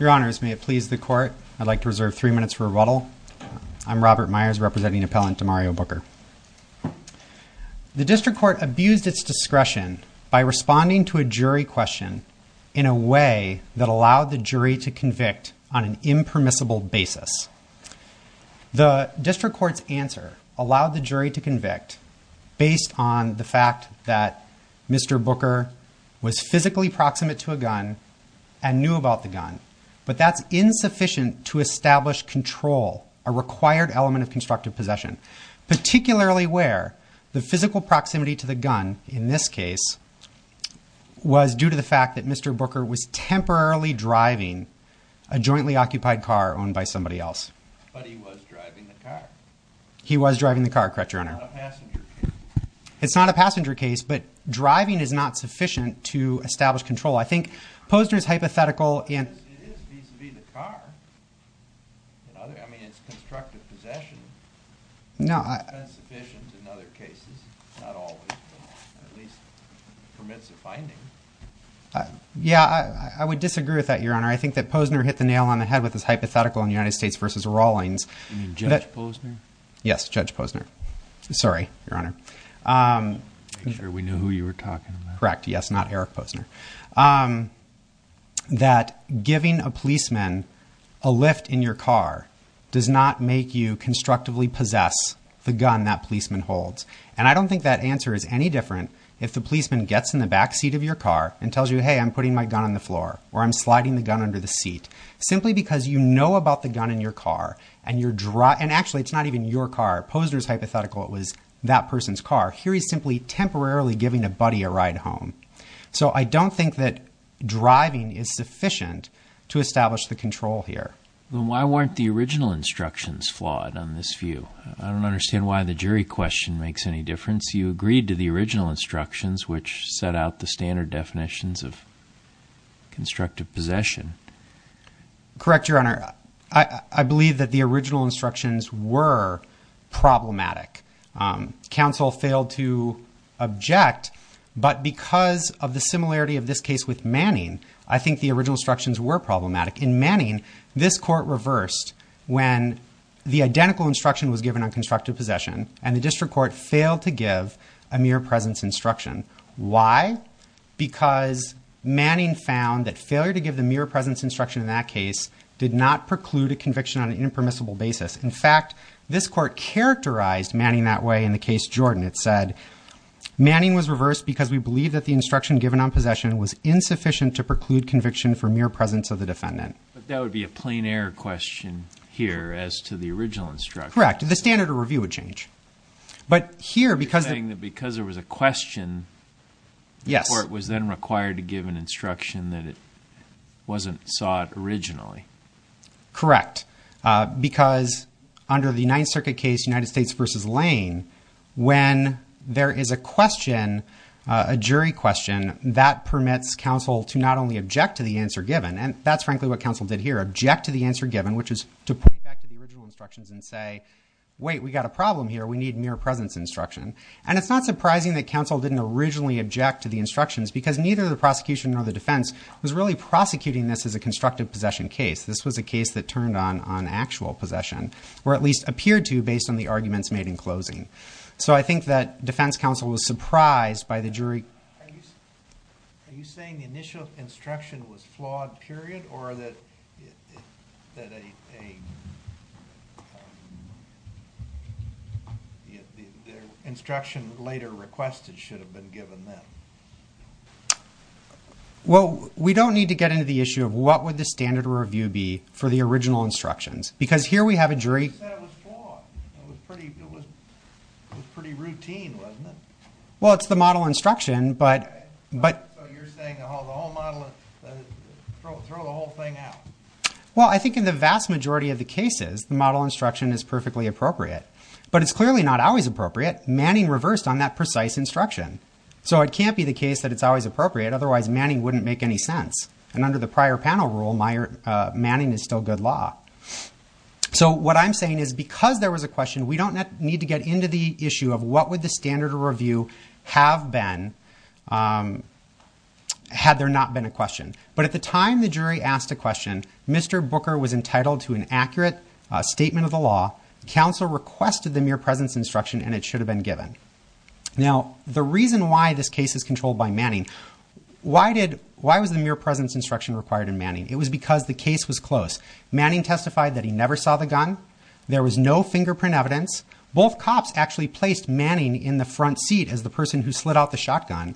Your honors, may it please the court, I'd like to reserve three minutes for rebuttal. I'm Robert Myers, representing appellant Demario Booker. The district court abused its discretion by responding to a jury question in a way that allowed the jury to convict on an impermissible basis. The district court's answer allowed the jury to convict based on the fact that Mr. Booker was physically proximate to a gun and knew about the gun, but that's insufficient to establish control, a required element of constructive possession, particularly where the physical proximity to the gun, in this case, was due to the fact that Mr. Booker was temporarily driving a jointly occupied car owned by somebody else. But he was driving the car. He was driving the car, correct your honor. It's not a passenger case. It's not a passenger case, but driving is not sufficient to establish control. I think Posner's hypothetical and It is vis-a-vis the car. I mean, it's constructive possession. No. It's insufficient in other cases. Not always, but at least it permits a finding. Yeah, I would disagree with that, your honor. I think that Posner hit the nail on the head with his hypothetical in United States versus You mean Judge Posner? Yes. Judge Posner. Sorry, your honor. Make sure we know who you were talking about. Correct. Yes. Not Eric Posner. That giving a policeman a lift in your car does not make you constructively possess the gun that policeman holds. And I don't think that answer is any different if the policeman gets in the backseat of your car and tells you, hey, I'm putting my gun on the floor or I'm sliding the gun under the seat simply because you know about the gun in your car and you're driving. And actually, it's not even your car. Posner's hypothetical. It was that person's car. Here he's simply temporarily giving a buddy a ride home. So I don't think that driving is sufficient to establish the control here. Why weren't the original instructions flawed on this view? I don't understand why the jury question makes any difference. You agreed to the original instructions, which set out the standard definitions of constructive possession. Correct, your honor. I believe that the original instructions were problematic. Counsel failed to object. But because of the similarity of this case with Manning, I think the original instructions were problematic. In Manning, this court reversed when the identical instruction was given on constructive possession and the district court failed to give a mere presence instruction. Why? Because Manning found that failure to give the mere presence instruction in that case did not preclude a conviction on an impermissible basis. In fact, this court characterized Manning that way in the case Jordan. It said, Manning was reversed because we believe that the instruction given on possession was insufficient to preclude conviction for mere presence of the defendant. But that would be a plain error question here as to the original instruction. Correct. The standard of review would change. But here, because... You're saying that because there was a question, the court was then required to give an instruction that it wasn't sought originally. Correct. Because under the Ninth Circuit case, United States v. Lane, when there is a question, a jury question, that permits counsel to not only object to the answer given, and that's frankly what counsel did here, object to the answer given, which is to point back to the wait, we've got a problem here. We need mere presence instruction. And it's not surprising that counsel didn't originally object to the instructions because neither the prosecution nor the defense was really prosecuting this as a constructive possession case. This was a case that turned on actual possession, or at least appeared to based on the arguments made in closing. So I think that defense counsel was surprised by the jury... Are you saying the initial instruction was flawed, period, or that an instruction later requested should have been given then? Well, we don't need to get into the issue of what would the standard of review be for the original instructions. Because here we have a jury... You said it was flawed. It was pretty routine, wasn't it? Well, it's the model instruction, but... Okay. So you're saying, oh, the whole model, throw the whole thing out. Well, I think in the vast majority of the cases, the model instruction is perfectly appropriate. But it's clearly not always appropriate. Manning reversed on that precise instruction. So it can't be the case that it's always appropriate, otherwise Manning wouldn't make any sense. And under the prior panel rule, Manning is still good law. So what I'm saying is because there was a question, we don't need to get into the issue of what would the standard of review have been had there not been a question. But at the time the jury asked a question, Mr. Booker was entitled to an accurate statement of the law, counsel requested the mere presence instruction, and it should have been given. Now the reason why this case is controlled by Manning, why was the mere presence instruction required in Manning? It was because the case was close. Manning testified that he never saw the gun. There was no fingerprint evidence. Both cops actually placed Manning in the front seat as the person who slid out the shotgun.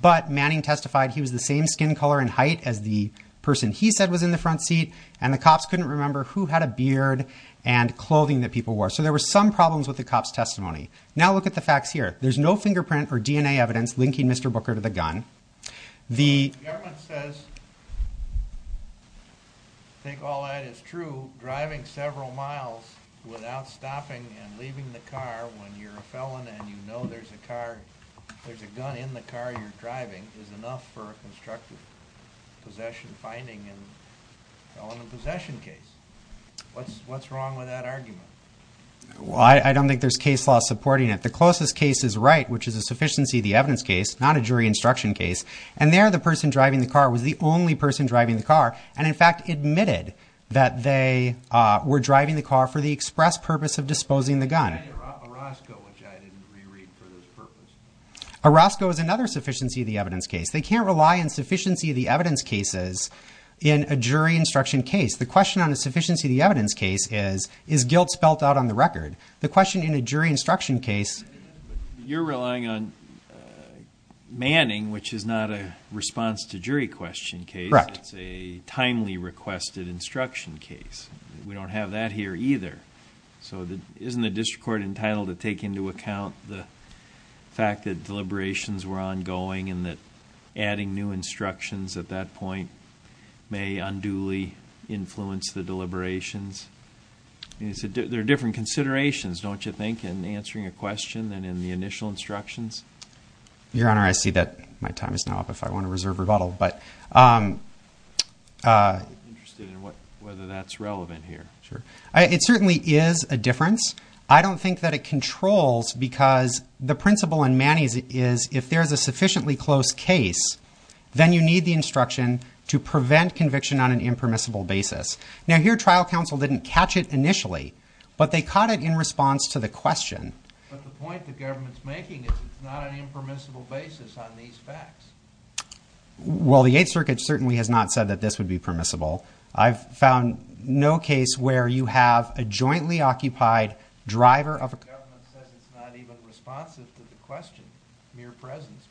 But Manning testified he was the same skin color and height as the person he said was in the front seat. And the cops couldn't remember who had a beard and clothing that people wore. So there were some problems with the cop's testimony. Now look at the facts here. There's no fingerprint or DNA evidence linking Mr. Booker to the gun. The government says, I think all that is true, driving several miles without stopping and leaving the car when you're a felon and you know there's a gun in the car you're driving is enough for a constructive possession finding in a felon in possession case. What's wrong with that argument? Well I don't think there's case law supporting it. The closest case is right, which is a sufficiency of the evidence case, not a jury instruction case. And there the person driving the car was the only person driving the car and in fact admitted that they were driving the car for the express purpose of disposing the gun. And Orozco, which I didn't reread for this purpose. Orozco is another sufficiency of the evidence case. They can't rely on sufficiency of the evidence cases in a jury instruction case. The question on a sufficiency of the evidence case is, is guilt spelt out on the record? The question in a jury instruction case. You're relying on manning, which is not a response to jury question case. Correct. It's a timely requested instruction case. We don't have that here either. So isn't the district court entitled to take into account the fact that deliberations were ongoing and that adding new instructions at that point may unduly influence the deliberations? They're different considerations, don't you think, in answering a question than in the initial instructions? Your Honor, I see that my time is now up if I want to reserve rebuttal. But I'm interested in whether that's relevant here. It certainly is a difference. I don't think that it controls because the principle in manning is if there's a sufficiently close case, then you need the instruction to prevent conviction on an impermissible basis. Now, here, trial counsel didn't catch it initially, but they caught it in response to the question. But the point the government's making is it's not an impermissible basis on these facts. Well, the Eighth Circuit certainly has not said that this would be permissible. I've found no case where you have a jointly occupied driver of a... The government says it's not even responsive to the question, mere presence,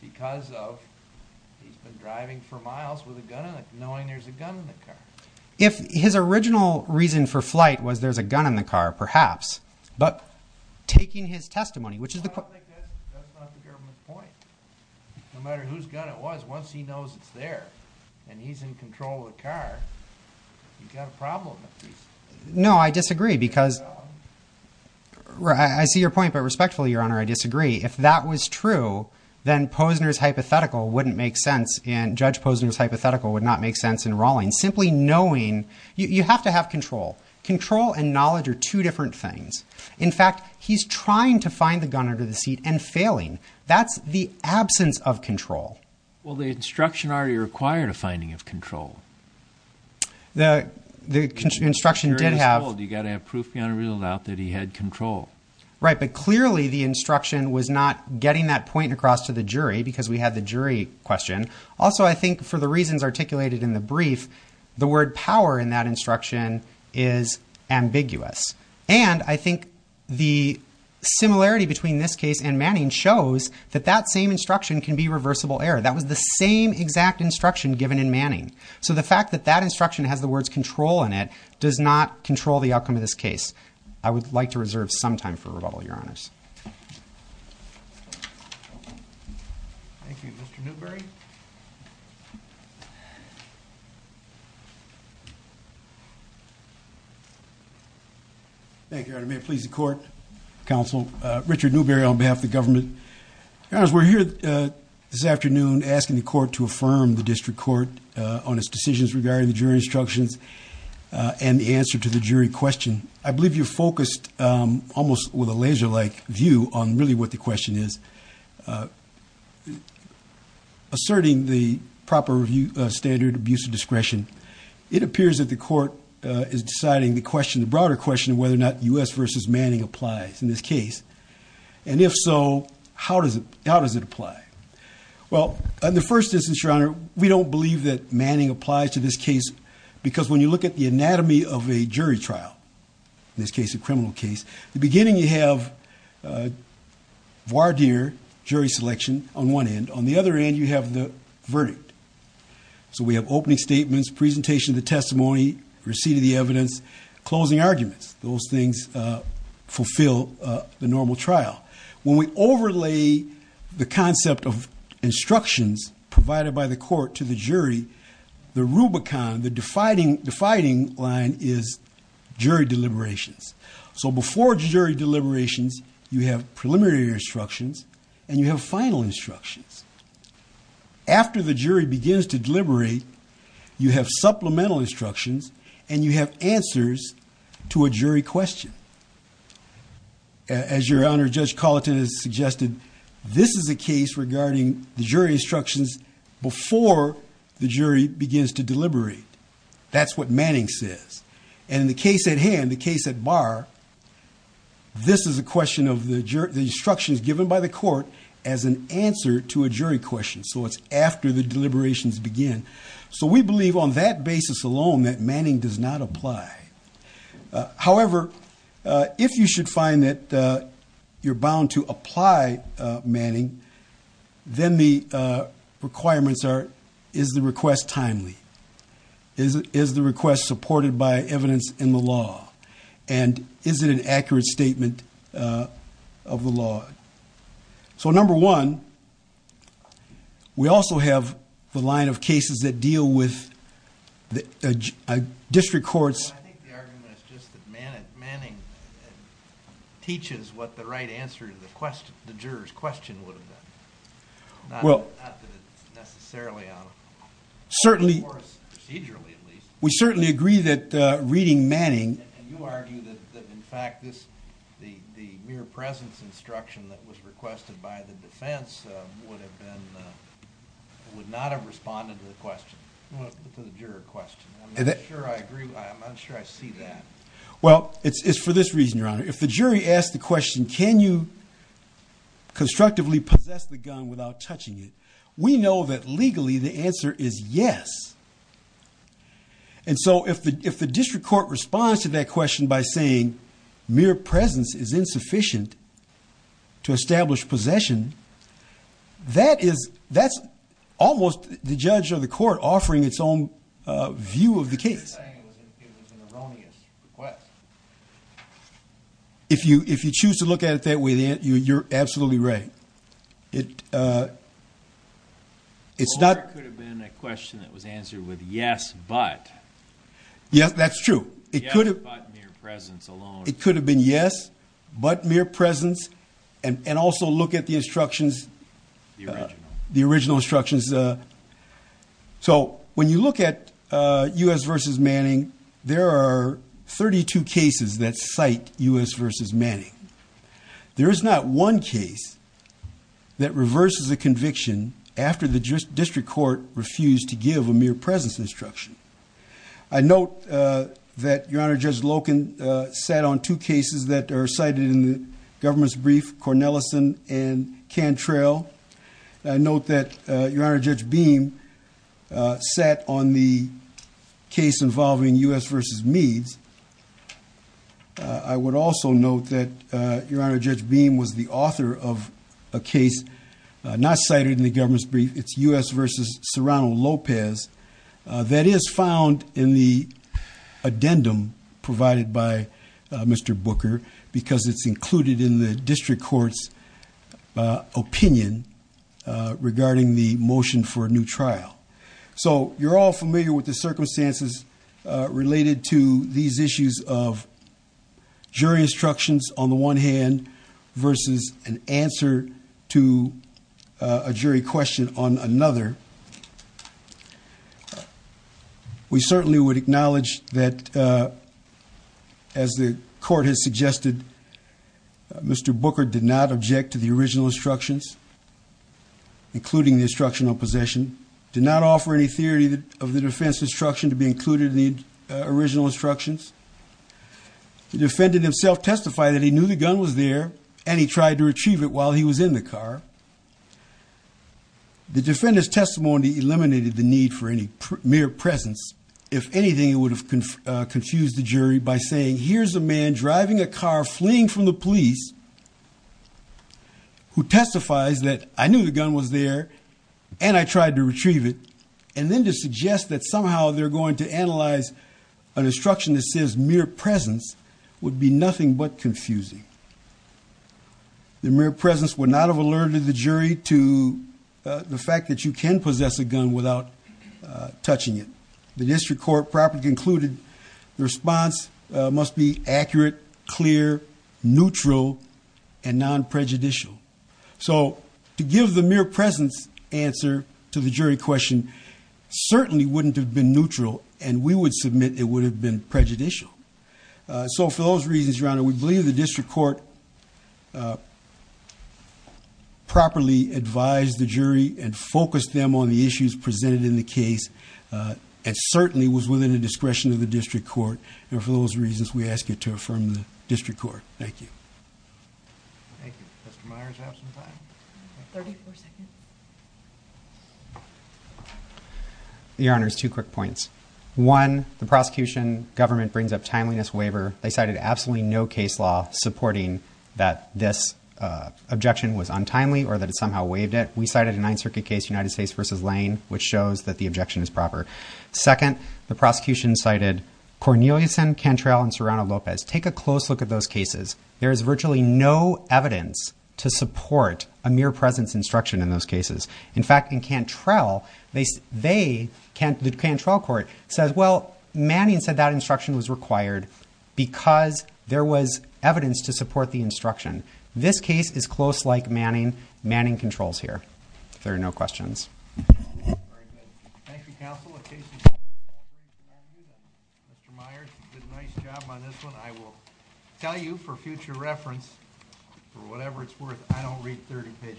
because of He's been driving for miles with a gun in it, knowing there's a gun in the car. If his original reason for flight was there's a gun in the car, perhaps, but taking his testimony, which is the... I don't think that's not the government's point. No matter whose gun it was, once he knows it's there and he's in control of the car, he's got a problem. No, I disagree, because I see your point, but respectfully, Your Honor, I disagree. If that was true, then Posner's hypothetical wouldn't make sense, and Judge Posner's hypothetical would not make sense in Rawlings, simply knowing... You have to have control. Control and knowledge are two different things. In fact, he's trying to find the gun under the seat and failing. That's the absence of control. Well, the instruction already required a finding of control. The instruction did have... You got to have proof beyond a reasonable doubt that he had control. Right. But clearly, the instruction was not getting that point across to the jury because we had the jury question. Also, I think for the reasons articulated in the brief, the word power in that instruction is ambiguous. And I think the similarity between this case and Manning shows that that same instruction can be reversible error. That was the same exact instruction given in Manning. So the fact that that instruction has the words control in it does not control the outcome of this case. I would like to reserve some time for rebuttal, Your Honors. Thank you. Mr. Newberry? Thank you, Your Honor. May it please the court, counsel. Richard Newberry on behalf of the government. Your Honors, we're here this afternoon asking the court to affirm the district court on its decisions regarding the jury instructions and the answer to the jury question. I believe you focused almost with a laser-like view on really what the question is. Asserting the proper review standard, abuse of discretion, it appears that the court is deciding the question, the broader question of whether or not U.S. v. Manning applies in this case. And if so, how does it apply? Well, in the first instance, Your Honor, we don't believe that Manning applies to this trial, in this case, a criminal case. The beginning, you have voir dire, jury selection on one end. On the other end, you have the verdict. So we have opening statements, presentation of the testimony, receipt of the evidence, closing arguments. Those things fulfill the normal trial. When we overlay the concept of instructions provided by the court to the jury, the Rubicon, the defining line is jury deliberations. So before jury deliberations, you have preliminary instructions and you have final instructions. After the jury begins to deliberate, you have supplemental instructions and you have answers to a jury question. As Your Honor, Judge Colleton has suggested, this is a case regarding the jury instructions before the jury begins to deliberate. That's what Manning says. And in the case at hand, the case at voir, this is a question of the instructions given by the court as an answer to a jury question. So it's after the deliberations begin. So we believe on that basis alone that Manning does not apply. However, if you should find that you're bound to apply, Manning, then the requirements are, is the request timely? Is the request supported by evidence in the law? And is it an accurate statement of the law? So number one, we also have the line of cases that deal with district courts. Well, I think the argument is just that Manning teaches what the right answer to the juror's question would have been, not that it's necessarily out of court, or procedurally, at least. We certainly agree that reading Manning... that was requested by the defense would have been, would not have responded to the question, to the juror question. I'm not sure I agree. I'm not sure I see that. Well, it's for this reason, Your Honor. If the jury asked the question, can you constructively possess the gun without touching it? We know that legally the answer is yes. And so if the district court responds to that question by saying mere presence is insufficient to establish possession, that is, that's almost the judge or the court offering its own view of the case. You're saying it was an erroneous request. If you, if you choose to look at it that way, you're absolutely right. It, it's not... Or it could have been a question that was answered with yes, but. Yes, that's true. It could have... Yes, but mere presence alone. It could have been yes, but mere presence, and also look at the instructions, the original So when you look at U.S. v. Manning, there are 32 cases that cite U.S. v. Manning. There is not one case that reverses a conviction after the district court refused to give a mere presence instruction. I note that Your Honor, Judge Loken sat on two cases that are cited in the government's brief, Cornelison and Cantrell. I note that Your Honor, Judge Beam sat on the case involving U.S. v. Meads. I would also note that Your Honor, Judge Beam was the author of a case not cited in the government's brief. It's U.S. v. Serrano-Lopez that is found in the addendum provided by Mr. Booker because it's included in the district court's opinion regarding the motion for a new trial. So you're all familiar with the circumstances related to these issues of jury instructions on the one hand versus an answer to a jury question on another. We certainly would acknowledge that as the court has suggested, Mr. Booker did not object to the original instructions, including the instruction on possession, did not offer any theory of the defense instruction to be included in the original instructions. The defendant himself testified that he knew the gun was there and he tried to retrieve it while he was in the car. The defendant's testimony eliminated the need for any mere presence. If anything, it would have confused the jury by saying, here's a man driving a car, fleeing from the police, who testifies that I knew the gun was there and I tried to retrieve it and then to suggest that somehow they're going to analyze an instruction that says mere presence would be nothing but confusing. The mere presence would not have alerted the jury to the fact that you can possess a gun without touching it. The district court properly concluded the response must be accurate, clear, neutral, and non-prejudicial. So, to give the mere presence answer to the jury question certainly wouldn't have been neutral and we would submit it would have been prejudicial. So for those reasons, Your Honor, we believe the district court properly advised the jury and focused them on the issues presented in the case and certainly was within the discretion of the district court. And for those reasons, we ask you to affirm the district court. Thank you. Thank you. Mr. Myers, do you have some time? Thirty-four seconds. Your Honors, two quick points. One, the prosecution government brings up timeliness waiver. They cited absolutely no case law supporting that this objection was untimely or that it somehow waived it. We cited a Ninth Circuit case, United States versus Lane, which shows that the objection is proper. Second, the prosecution cited Corneliuson, Cantrell, and Serrano-Lopez. Take a close look at those cases. There is virtually no evidence to support a mere presence instruction in those cases. In fact, in Cantrell, the Cantrell court says, well, Manning said that instruction was required because there was evidence to support the instruction. This case is close like Manning. Manning controls here. If there are no questions. Very good. Thank you, counsel. Mr. Myers, you did a nice job on this one. I will tell you for future reference, for whatever it's worth, I don't read 30-page